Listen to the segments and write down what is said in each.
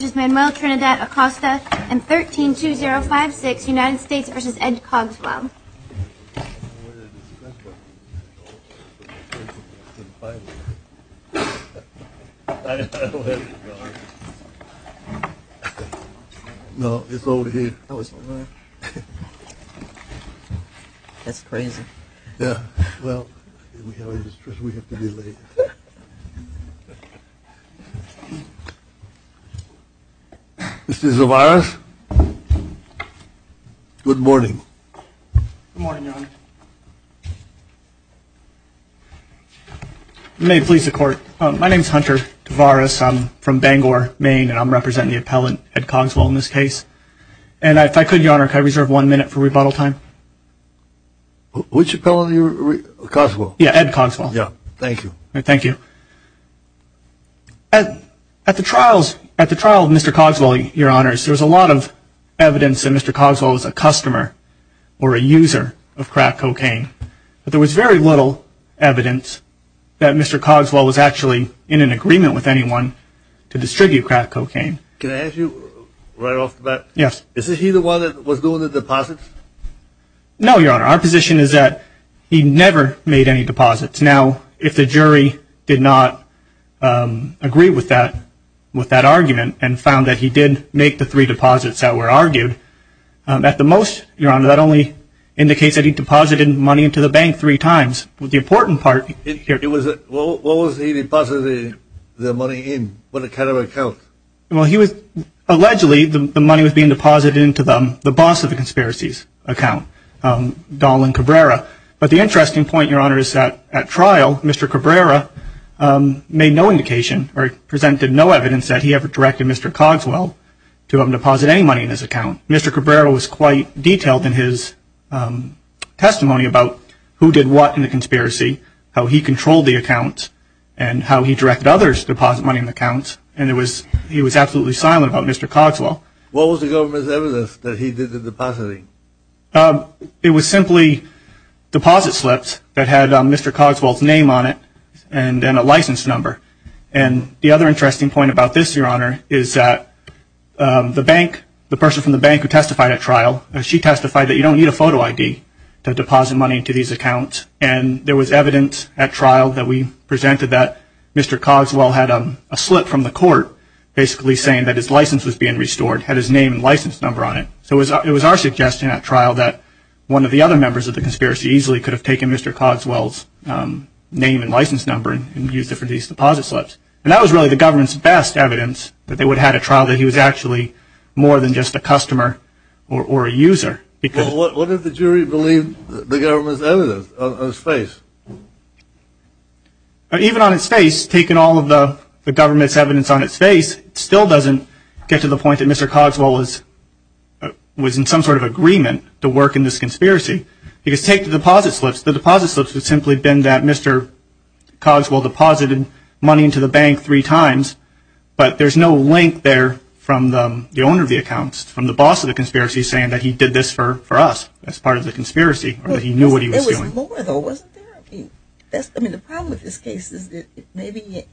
vs. Manuel Trinidad-Acosta and 13-2056 United States v. Ed Cogswell. Mr. Zavaras, good morning. Good morning, Your Honor. May it please the Court, my name is Hunter Zavaras. I'm from Bangor, Maine, and I'm representing the appellant, Ed Cogswell, in this case. And if I could, Your Honor, can I reserve one minute for rebuttal time? Which appellant are you referring to? Cogswell? Yeah, Ed Cogswell. Yeah, thank you. Thank you. At the trials, at the trial of Mr. Cogswell, Your Honor, there was a lot of evidence that Mr. Cogswell was a customer or a user of crack cocaine. But there was very little evidence that Mr. Cogswell was actually in an agreement with anyone to distribute crack cocaine. Can I ask you right off the bat? Yes. Is he the one that was doing the deposits? No, Your Honor. Our position is that he never made any deposits. Now, if the jury did not agree with that argument and found that he did make the three deposits that were argued, at the most, Your Honor, that only indicates that he deposited money into the bank three times. The important part here is that... What was he depositing the money in? What kind of account? Well, he was allegedly, the money was being deposited into the boss of the conspiracy's account, Dolan Cabrera. But the interesting point, Your Honor, is that at trial, Mr. Cabrera made no indication or presented no evidence that he ever directed Mr. Cogswell to have him deposit any money in his account. Mr. Cabrera was quite detailed in his testimony about who did what in the conspiracy, how he controlled the account, and how he directed others to deposit money in the account, and he was absolutely silent about Mr. Cogswell. What was the government's evidence that he did the depositing? It was simply deposit slips that had Mr. Cogswell's name on it and a license number. And the other interesting point about this, Your Honor, is that the bank, the person from the bank who testified at trial, she testified that you don't need a photo ID to deposit money into these accounts, and there was evidence at trial that we presented that Mr. Cogswell had a slip from the court, basically saying that his license was being restored, had his name and license number on it. So it was our suggestion at trial that one of the other members of the conspiracy easily could have taken Mr. Cogswell's name and license number and used it for these deposit slips. And that was really the government's best evidence that they would have at trial that he was actually more than just a customer or a user. Well, what did the jury believe the government's evidence on his face? Even on his face, taking all of the government's evidence on his face still doesn't get to the point that Mr. Cogswell was in some sort of agreement to work in this conspiracy. Because take the deposit slips. The deposit slips would simply have been that Mr. Cogswell deposited money into the bank three times, but there's no link there from the owner of the accounts, from the boss of the conspiracy, saying that he did this for us as part of the conspiracy or that he knew what he was doing. There was more, though, wasn't there? I mean, the problem with this case is that maybe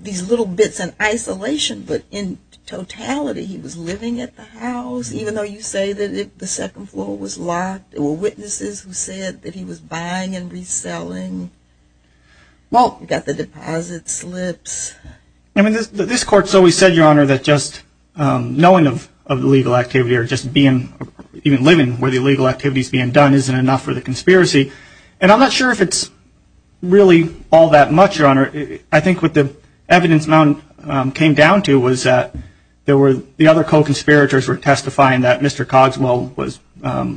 these little bits in isolation, but in totality he was living at the house, even though you say that the second floor was locked. There were witnesses who said that he was buying and reselling. Well, you've got the deposit slips. I mean, this court's always said, Your Honor, that just knowing of illegal activity or just being, even living where the illegal activity's being done isn't enough for the conspiracy. And I'm not sure if it's really all that much, Your Honor. I think what the evidence amount came down to was that the other co-conspirators were testifying that Mr. Cogswell was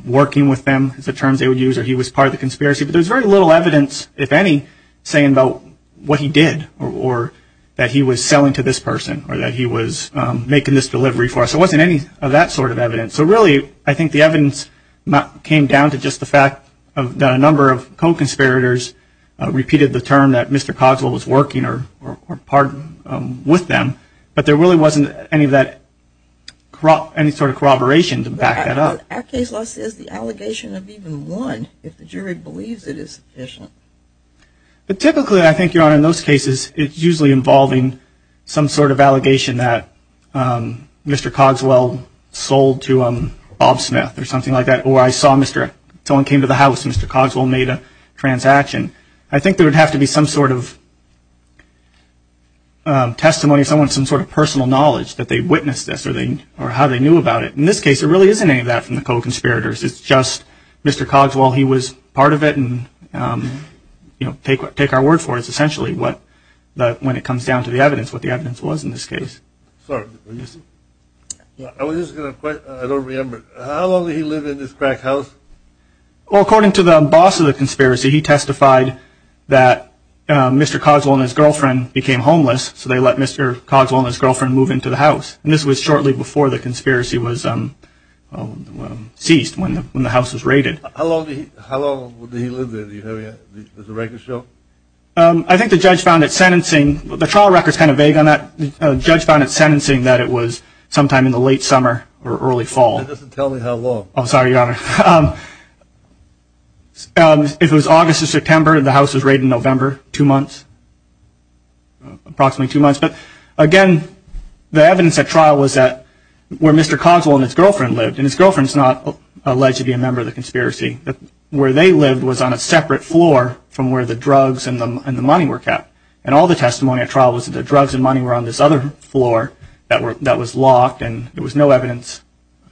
working with them, is the term they would use, or he was part of the conspiracy. But there was very little evidence, if any, saying about what he did or that he was selling to this person or that he was making this delivery for us. There wasn't any of that sort of evidence. So really, I think the evidence came down to just the fact that a number of co-conspirators repeated the term that Mr. Cogswell was working or part with them, but there really wasn't any sort of corroboration to back that up. Our case law says the allegation of even one, if the jury believes it, is sufficient. Typically, I think, Your Honor, in those cases, it's usually involving some sort of allegation that Mr. Cogswell sold to Bob Smith or something like that, or I saw someone came to the house and Mr. Cogswell made a transaction. I think there would have to be some sort of testimony, some sort of personal knowledge that they witnessed this or how they knew about it. In this case, there really isn't any of that from the co-conspirators. It's just Mr. Cogswell, he was part of it. Take our word for it. It's essentially what, when it comes down to the evidence, what the evidence was in this case. I don't remember. How long did he live in this crack house? According to the boss of the conspiracy, he testified that Mr. Cogswell and his girlfriend became homeless, so they let Mr. Cogswell and his girlfriend move into the house. And this was shortly before the conspiracy was seized, when the house was raided. How long did he live there? Do you have the record show? I think the judge found it sentencing. The trial record is kind of vague on that. The judge found it sentencing that it was sometime in the late summer or early fall. It doesn't tell me how long. Oh, sorry, Your Honor. It was August or September. The house was raided in November, two months, approximately two months. But, again, the evidence at trial was that where Mr. Cogswell and his girlfriend lived, and his girlfriend is not alleged to be a member of the conspiracy, but where they lived was on a separate floor from where the drugs and the money were kept. And all the testimony at trial was that the drugs and money were on this other floor that was locked, and there was no evidence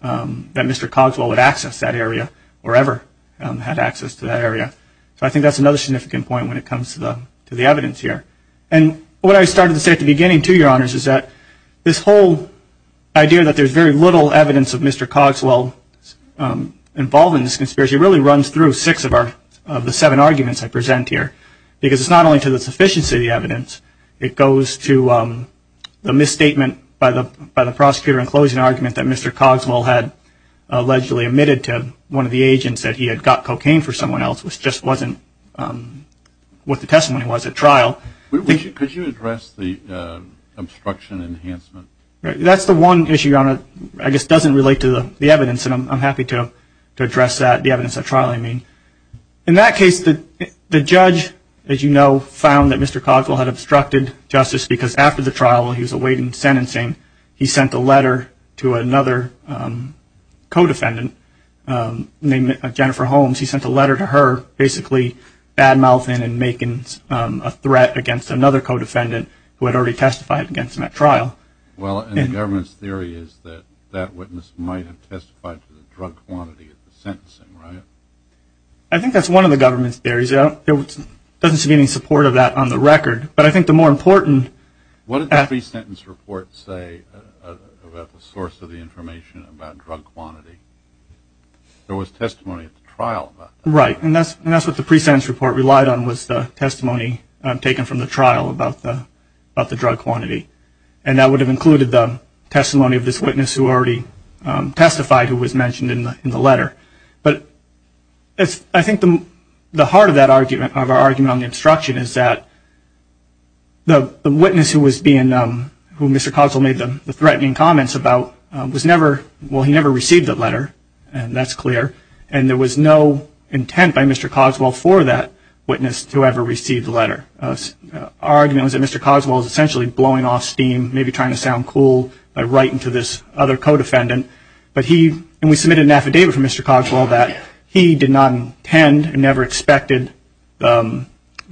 that Mr. Cogswell would access that area or ever had access to that area. So I think that's another significant point when it comes to the evidence here. And what I started to say at the beginning, too, Your Honors, is that this whole idea that there's very little evidence of Mr. Cogswell involved in this conspiracy really runs through six of the seven arguments I present here, because it's not only to the sufficiency of the evidence. It goes to the misstatement by the prosecutor in closing argument that Mr. Cogswell had allegedly admitted to one of the agents that he had got cocaine for someone else, which just wasn't what the testimony was at trial. Could you address the obstruction enhancement? That's the one issue, Your Honor, I guess doesn't relate to the evidence, and I'm happy to address that, the evidence at trial, I mean. In that case, the judge, as you know, found that Mr. Cogswell had obstructed justice because after the trial he was awaiting sentencing, he sent a letter to another co-defendant named Jennifer Holmes. He sent a letter to her basically bad-mouthing and making a threat against another co-defendant who had already testified against him at trial. Well, and the government's theory is that that witness might have testified to the drug quantity at the sentencing, right? I think that's one of the government's theories. There doesn't seem to be any support of that on the record. But I think the more important- What did the pre-sentence report say about the source of the information about drug quantity? There was testimony at the trial about that. Right, and that's what the pre-sentence report relied on, was the testimony taken from the trial about the drug quantity. And that would have included the testimony of this witness who already testified, who was mentioned in the letter. But I think the heart of that argument, of our argument on the obstruction, is that the witness who Mr. Cogswell made the threatening comments about was never- well, he never received that letter, and that's clear. And there was no intent by Mr. Cogswell for that witness to ever receive the letter. Our argument was that Mr. Cogswell was essentially blowing off steam, maybe trying to sound cool by writing to this other co-defendant. And we submitted an affidavit from Mr. Cogswell that he did not intend, never expected the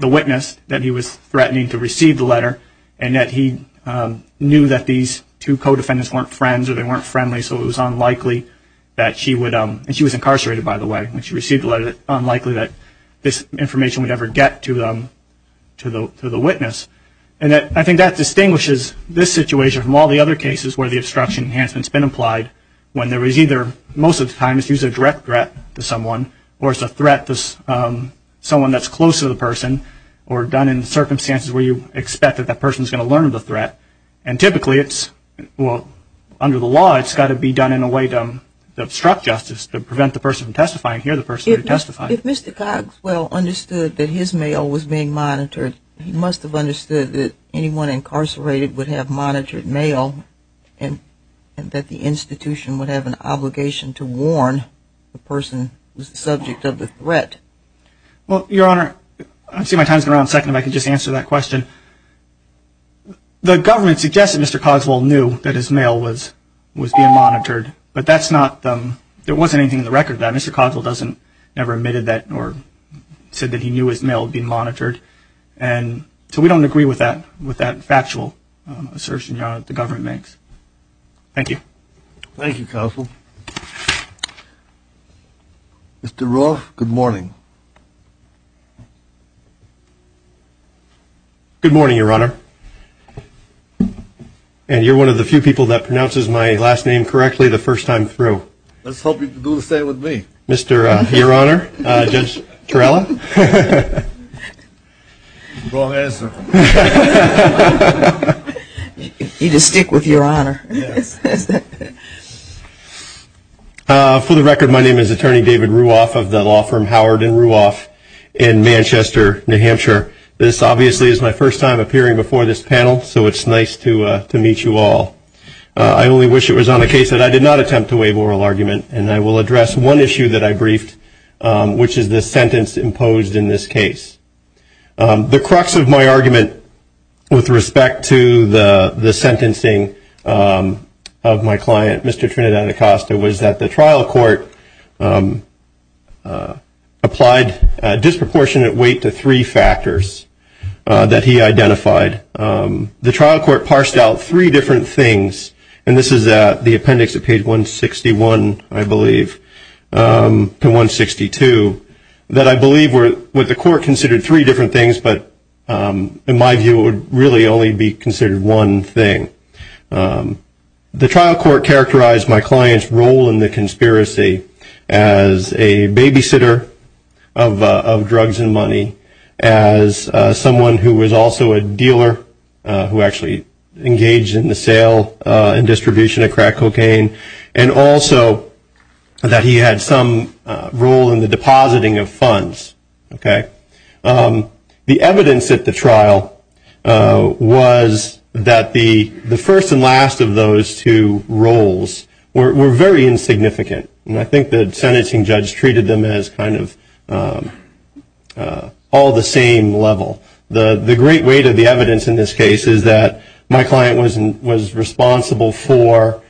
witness that he was threatening to receive the letter, and that he knew that these two co-defendants weren't friends or they weren't friendly, so it was unlikely that she would- and she was incarcerated, by the way, and she received the letter- unlikely that this information would ever get to the witness. And I think that distinguishes this situation from all the other cases where the obstruction enhancement's been applied, when there is either- most of the time it's used as a direct threat to someone, or it's a threat to someone that's close to the person, or done in circumstances where you expect that that person's going to learn of the threat. And typically it's-well, under the law, it's got to be done in a way to obstruct justice, to prevent the person from testifying, hear the person who testified. If Mr. Cogswell understood that his mail was being monitored, he must have understood that anyone incarcerated would have monitored mail, and that the institution would have an obligation to warn the person who's the subject of the threat. Well, Your Honor, I'm seeing my time's running out in a second, if I could just answer that question. The government suggested Mr. Cogswell knew that his mail was being monitored, but that's not-there wasn't anything in the record that Mr. Cogswell doesn't- So we don't agree with that factual assertion, Your Honor, that the government makes. Thank you. Thank you, Cogswell. Mr. Roth, good morning. Good morning, Your Honor. And you're one of the few people that pronounces my last name correctly the first time through. Let's hope you can do the same with me. Mr. Your Honor, Judge Torella. You just stick with Your Honor. For the record, my name is Attorney David Ruoff of the law firm Howard & Ruoff in Manchester, New Hampshire. This obviously is my first time appearing before this panel, so it's nice to meet you all. I only wish it was on a case that I did not attempt to waive oral argument, and I will address one issue that I briefed, which is the sentence imposed in this case. The crux of my argument with respect to the sentencing of my client, Mr. Trinidad Acosta, was that the trial court applied a disproportionate weight to three factors that he identified. The trial court parsed out three different things, and this is the appendix at page 161, I believe, to 162, that I believe the court considered three different things, but in my view it would really only be considered one thing. The trial court characterized my client's role in the conspiracy as a babysitter of drugs and money, as someone who was also a dealer who actually engaged in the sale and distribution of crack cocaine, and also that he had some role in the depositing of funds. The evidence at the trial was that the first and last of those two roles were very insignificant, and I think the sentencing judge treated them as kind of all the same level. The great weight of the evidence in this case is that my client was responsible for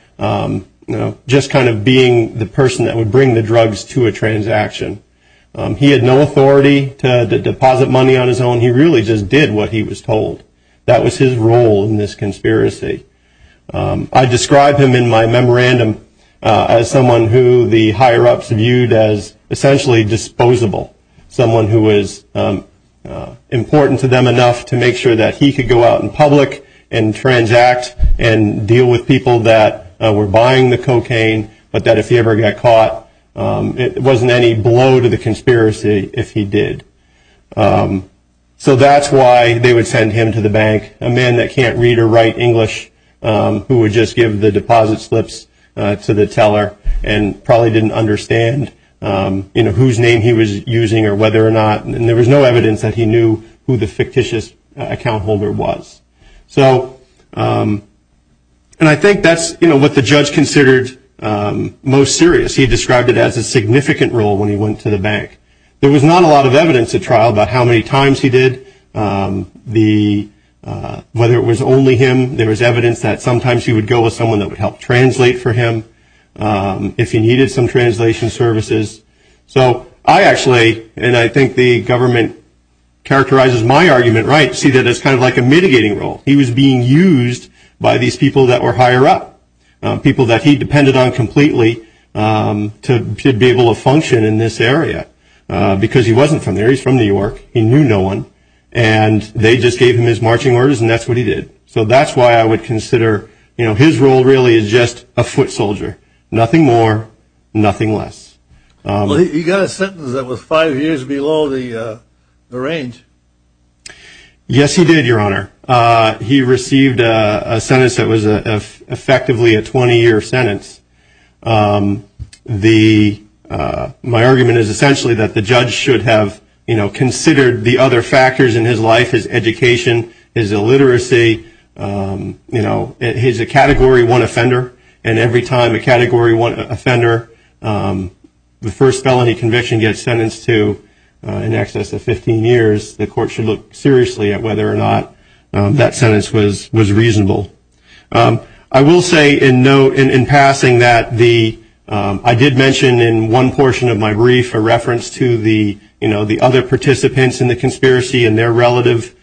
just kind of being the person that would bring the drugs to a transaction. He had no authority to deposit money on his own. He really just did what he was told. That was his role in this conspiracy. I describe him in my memorandum as someone who the higher-ups viewed as essentially disposable, someone who was important to them enough to make sure that he could go out in public and transact and deal with people that were buying the cocaine, but that if he ever got caught, it wasn't any blow to the conspiracy if he did. So that's why they would send him to the bank, a man that can't read or write English who would just give the deposit slips to the teller and probably didn't understand whose name he was using or whether or not, and there was no evidence that he knew who the fictitious account holder was. And I think that's what the judge considered most serious. He described it as a significant role when he went to the bank. There was not a lot of evidence at trial about how many times he did. Whether it was only him, there was evidence that sometimes he would go with someone that would help translate for him if he needed some translation services. So I actually, and I think the government characterizes my argument right, see that as kind of like a mitigating role. He was being used by these people that were higher up, people that he depended on completely to be able to function in this area, because he wasn't from there. He's from New York. He knew no one, and they just gave him his marching orders, and that's what he did. So that's why I would consider, you know, his role really is just a foot soldier, nothing more, nothing less. Well, he got a sentence that was five years below the range. Yes, he did, Your Honor. He received a sentence that was effectively a 20-year sentence. My argument is essentially that the judge should have, you know, considered the other factors in his life, his education, his illiteracy. You know, he's a Category 1 offender, and every time a Category 1 offender, the first felony conviction gets sentenced to in excess of 15 years, the court should look seriously at whether or not that sentence was reasonable. I will say in passing that I did mention in one portion of my brief a reference to the, you know, the other participants in the conspiracy and their relative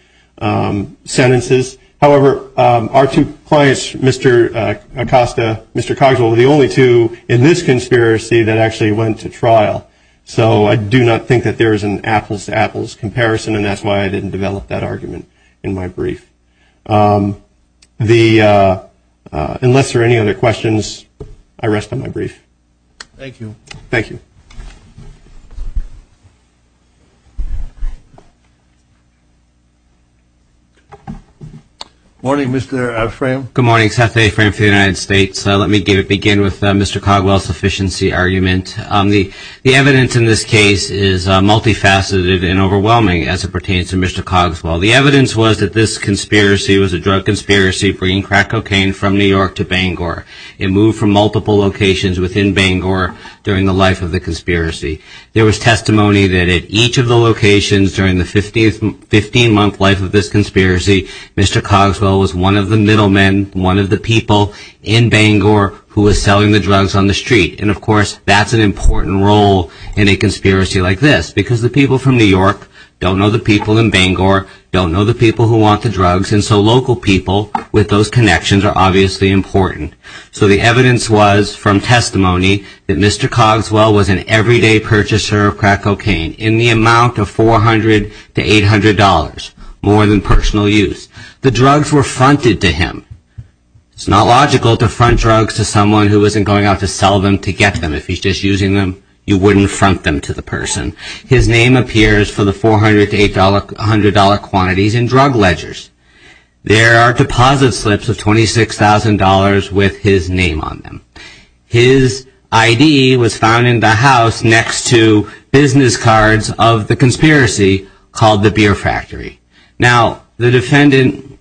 sentences. However, our two clients, Mr. Acosta, Mr. Cogswell, were the only two in this conspiracy that actually went to trial. So I do not think that there is an apples-to-apples comparison, and that's why I didn't develop that argument in my brief. Unless there are any other questions, I rest on my brief. Thank you. Thank you. Good morning, Mr. Afram. Good morning, Seth Afram for the United States. Let me begin with Mr. Cogswell's sufficiency argument. The evidence in this case is multifaceted and overwhelming as it pertains to Mr. Cogswell. The evidence was that this conspiracy was a drug conspiracy bringing crack cocaine from New York to Bangor. It moved from multiple locations within Bangor during the life of the conspiracy. There was testimony that at each of the locations during the 15-month life of this conspiracy, Mr. Cogswell was one of the middlemen, one of the people in Bangor who was selling the drugs on the street. And, of course, that's an important role in a conspiracy like this, because the people from New York don't know the people in Bangor, don't know the people who want the drugs, and so local people with those connections are obviously important. So the evidence was from testimony that Mr. Cogswell was an everyday purchaser of crack cocaine in the amount of $400 to $800, more than personal use. The drugs were fronted to him. It's not logical to front drugs to someone who isn't going out to sell them to get them. If he's just using them, you wouldn't front them to the person. His name appears for the $400 to $800 quantities in drug ledgers. There are deposit slips of $26,000 with his name on them. His ID was found in the house next to business cards of the conspiracy called the Beer Factory. Now, the defendant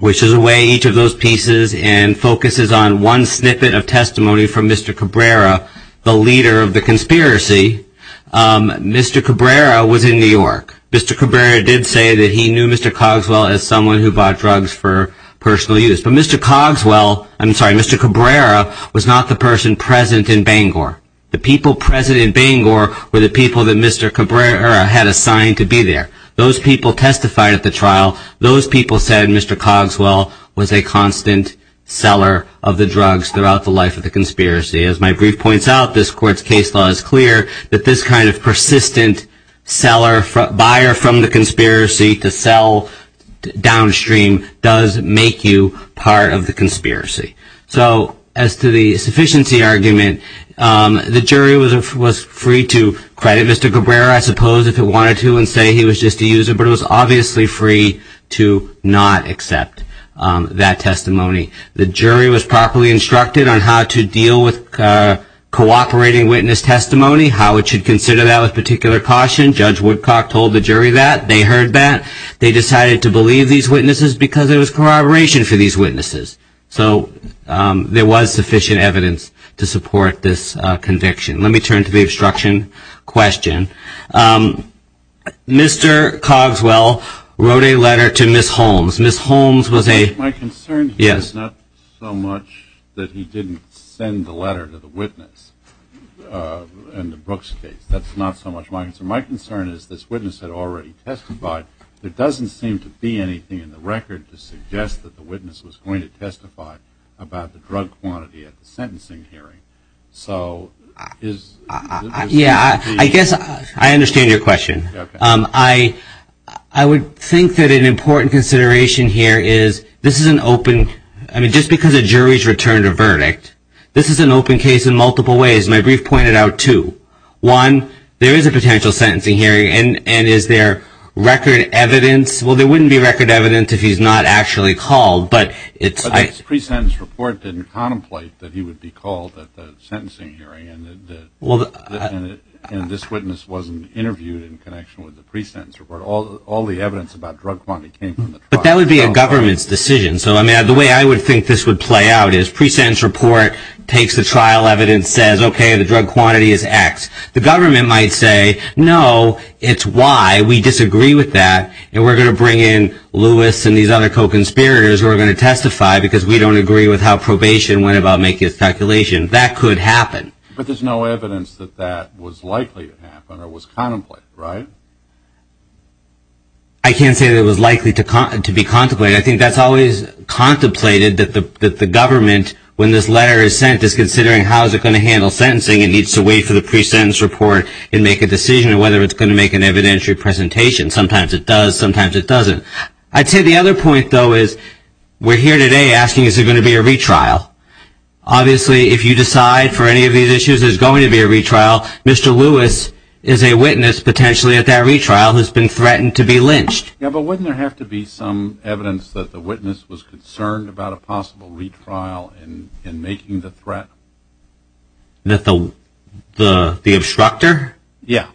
wishes away each of those pieces and focuses on one snippet of testimony from Mr. Cabrera, the leader of the conspiracy. Mr. Cabrera was in New York. Mr. Cabrera did say that he knew Mr. Cogswell as someone who bought drugs for personal use. But Mr. Cogswell, I'm sorry, Mr. Cabrera was not the person present in Bangor. The people present in Bangor were the people that Mr. Cabrera had assigned to be there. Those people testified at the trial. Those people said Mr. Cogswell was a constant seller of the drugs throughout the life of the conspiracy. As my brief points out, this court's case law is clear that this kind of persistent seller, buyer from the conspiracy to sell downstream does make you part of the conspiracy. So as to the sufficiency argument, the jury was free to credit Mr. Cabrera, I suppose, if it wanted to, and say he was just a user. But it was obviously free to not accept that testimony. The jury was properly instructed on how to deal with cooperating witness testimony, how it should consider that with particular caution. Judge Woodcock told the jury that. They heard that. They decided to believe these witnesses because it was corroboration for these witnesses. So there was sufficient evidence to support this conviction. Let me turn to the obstruction question. Mr. Cogswell wrote a letter to Ms. Holmes. Ms. Holmes was a- My concern here is not so much that he didn't send the letter to the witness in the Brooks case. That's not so much my concern. My concern is this witness had already testified. There doesn't seem to be anything in the record to suggest that the witness was going to testify about the drug quantity at the sentencing hearing. So is- Yeah, I guess I understand your question. I would think that an important consideration here is this is an open- I mean, just because a jury's returned a verdict, this is an open case in multiple ways. My brief pointed out two. One, there is a potential sentencing hearing, and is there record evidence- well, there wouldn't be record evidence if he's not actually called, but it's- His pre-sentence report didn't contemplate that he would be called at the sentencing hearing, and this witness wasn't interviewed in connection with the pre-sentence report. All the evidence about drug quantity came from the trial. But that would be a government's decision. So, I mean, the way I would think this would play out is pre-sentence report takes the trial evidence, says, okay, the drug quantity is X. The government might say, no, it's Y. We disagree with that, and we're going to bring in Lewis and these other co-conspirators who are going to testify because we don't agree with how probation went about making its calculation. That could happen. But there's no evidence that that was likely to happen or was contemplated, right? I can't say that it was likely to be contemplated. I think that's always contemplated, that the government, when this letter is sent, is considering how is it going to handle sentencing. It needs to wait for the pre-sentence report and make a decision on whether it's going to make an evidentiary presentation. Sometimes it does. Sometimes it doesn't. I'd say the other point, though, is we're here today asking, is there going to be a retrial? Obviously, if you decide for any of these issues there's going to be a retrial, Mr. Lewis is a witness potentially at that retrial who's been threatened to be lynched. Yeah, but wouldn't there have to be some evidence that the witness was concerned about a possible retrial in making the threat? The obstructor? Yeah.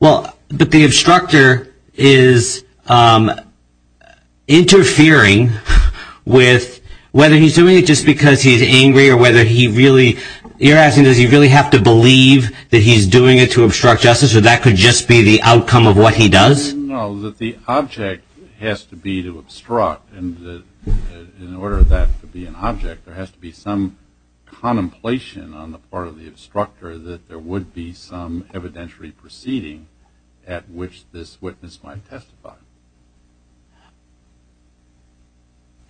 Well, but the obstructor is interfering with whether he's doing it just because he's angry or whether he really, you're asking does he really have to believe that he's doing it to obstruct justice or that could just be the outcome of what he does? No, that the object has to be to obstruct, and in order for that to be an object, there has to be some contemplation on the part of the obstructor that there would be some evidentiary proceeding at which this witness might testify.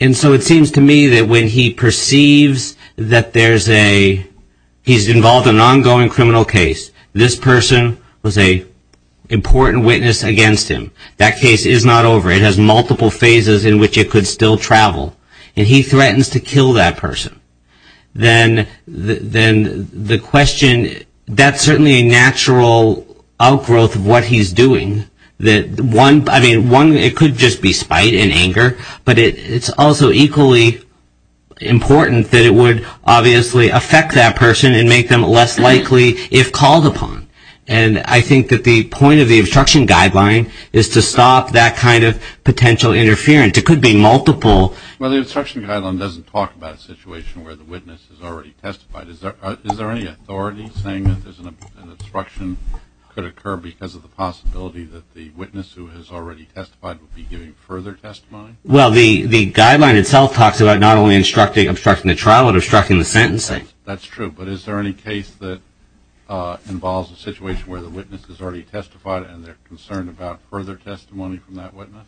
And so it seems to me that when he perceives that there's a, he's involved in an ongoing criminal case, this person was an important witness against him. That case is not over. It has multiple phases in which it could still travel, and he threatens to kill that person. Then the question, that's certainly a natural outgrowth of what he's doing. I mean, one, it could just be spite and anger, but it's also equally important that it would obviously affect that person and make them less likely if called upon. And I think that the point of the obstruction guideline is to stop that kind of potential interference. It could be multiple. Well, the obstruction guideline doesn't talk about a situation where the witness has already testified. Is there any authority saying that an obstruction could occur because of the possibility that the witness who has already testified would be giving further testimony? Well, the guideline itself talks about not only obstructing the trial, but obstructing the sentencing. That's true. But is there any case that involves a situation where the witness has already testified and they're concerned about further testimony from that witness?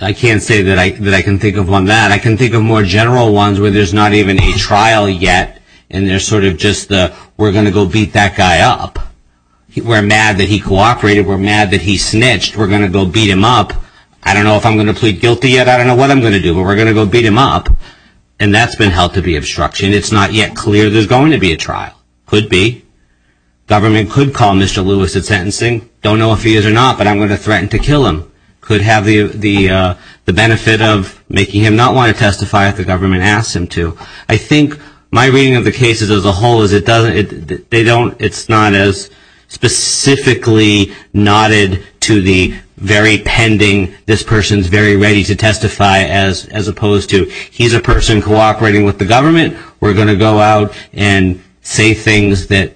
I can't say that I can think of one that. I can think of more general ones where there's not even a trial yet, and they're sort of just the, we're going to go beat that guy up. We're mad that he cooperated. We're mad that he snitched. We're going to go beat him up. I don't know if I'm going to plead guilty yet. I don't know what I'm going to do, but we're going to go beat him up. And that's been held to be obstruction. It's not yet clear there's going to be a trial. Could be. Government could call Mr. Lewis at sentencing. Don't know if he is or not, but I'm going to threaten to kill him. Could have the benefit of making him not want to testify if the government asks him to. I think my reading of the cases as a whole is it doesn't, they don't, it's not as specifically nodded to the very pending, this person's very ready to testify, as opposed to he's a person cooperating with the government. We're going to go out and say things that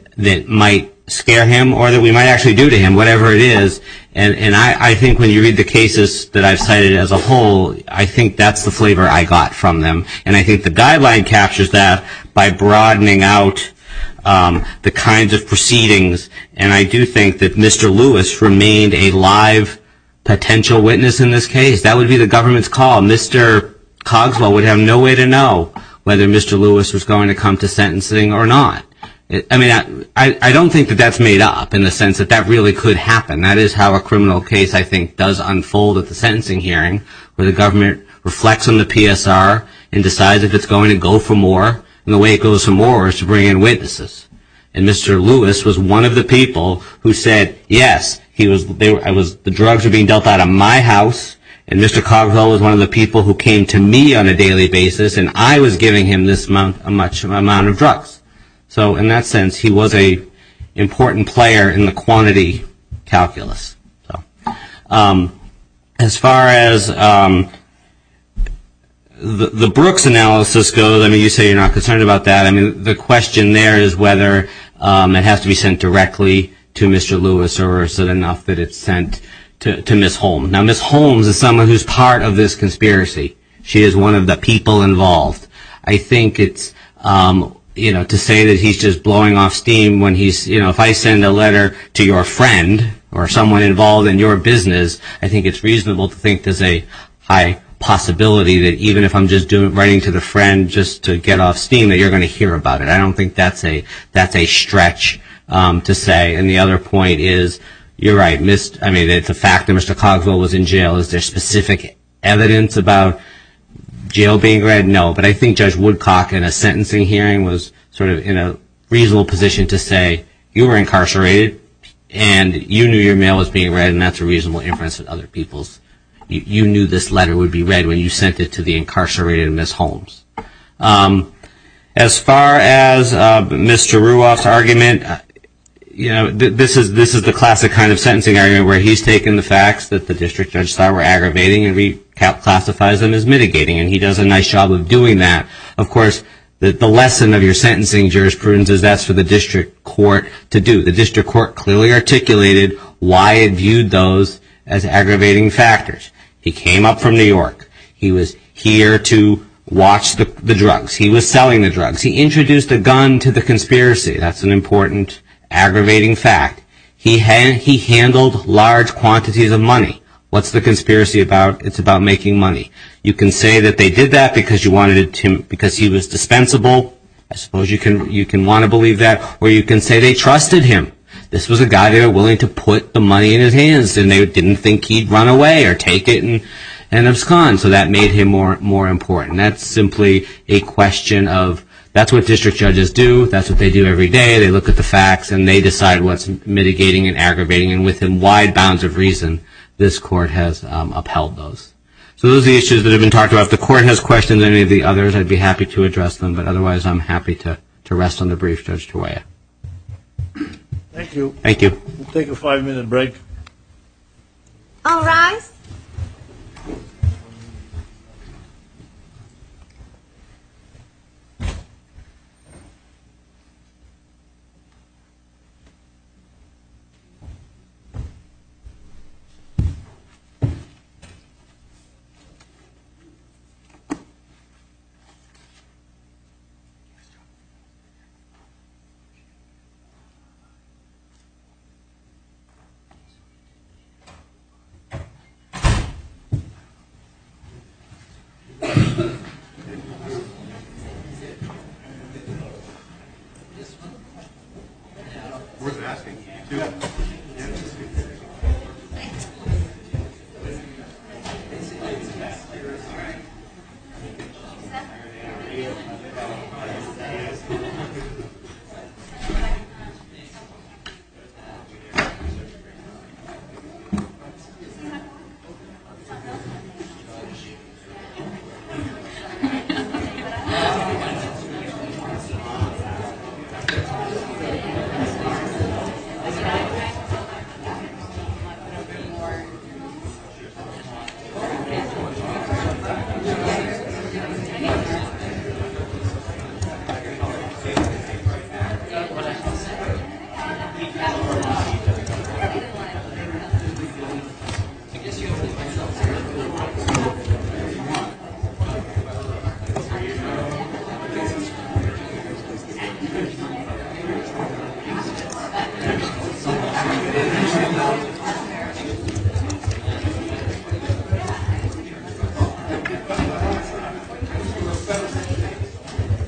might scare him or that we might actually do to him, whatever it is. And I think when you read the cases that I've cited as a whole, I think that's the flavor I got from them. And I think the guideline captures that by broadening out the kinds of proceedings. And I do think that Mr. Lewis remained a live potential witness in this case. That would be the government's call. Mr. Cogswell would have no way to know whether Mr. Lewis was going to come to sentencing or not. I mean, I don't think that that's made up in the sense that that really could happen. That is how a criminal case, I think, does unfold at the sentencing hearing, where the government reflects on the PSR and decides if it's going to go for more. And the way it goes for more is to bring in witnesses. And Mr. Lewis was one of the people who said, yes, the drugs were being dealt out of my house, and Mr. Cogswell was one of the people who came to me on a daily basis, and I was giving him this much amount of drugs. So in that sense, he was an important player in the quantity calculus. As far as the Brooks analysis goes, I mean, you say you're not concerned about that. I mean, the question there is whether it has to be sent directly to Mr. Lewis or is it enough that it's sent to Ms. Holmes. Now, Ms. Holmes is someone who's part of this conspiracy. She is one of the people involved. I think it's, you know, to say that he's just blowing off steam when he's, you know, if I send a letter to your friend or someone involved in your business, I think it's reasonable to think there's a high possibility that even if I'm just writing to the friend just to get off steam, that you're going to hear about it. I don't think that's a stretch to say. And the other point is you're right. I mean, the fact that Mr. Cogswell was in jail, is there specific evidence about jail being read? No. But I think Judge Woodcock in a sentencing hearing was sort of in a reasonable position to say, you were incarcerated and you knew your mail was being read, and that's a reasonable inference of other people's. You knew this letter would be read when you sent it to the incarcerated Ms. Holmes. As far as Mr. Ruoff's argument, you know, this is the classic kind of sentencing argument where he's taken the facts that the district judge thought were aggravating and reclassifies them as mitigating, and he does a nice job of doing that. Of course, the lesson of your sentencing jurisprudence is that's for the district court to do. The district court clearly articulated why it viewed those as aggravating factors. He came up from New York. He was here to watch the drugs. He was selling the drugs. He introduced a gun to the conspiracy. That's an important aggravating fact. He handled large quantities of money. What's the conspiracy about? It's about making money. You can say that they did that because he was dispensable. I suppose you can want to believe that. Or you can say they trusted him. This was a guy they were willing to put the money in his hands, and they didn't think he'd run away or take it, and it was gone. So that made him more important. That's simply a question of that's what district judges do. That's what they do every day. They look at the facts, and they decide what's mitigating and aggravating, and within wide bounds of reason, this court has upheld those. So those are the issues that have been talked about. If the court has questions on any of the others, I'd be happy to address them, but otherwise I'm happy to rest on the brief, Judge Tawaia. Thank you. We'll take a five-minute break. All rise. Thank you. Thank you. Thank you. Thank you. Thank you. Thank you. Thank you.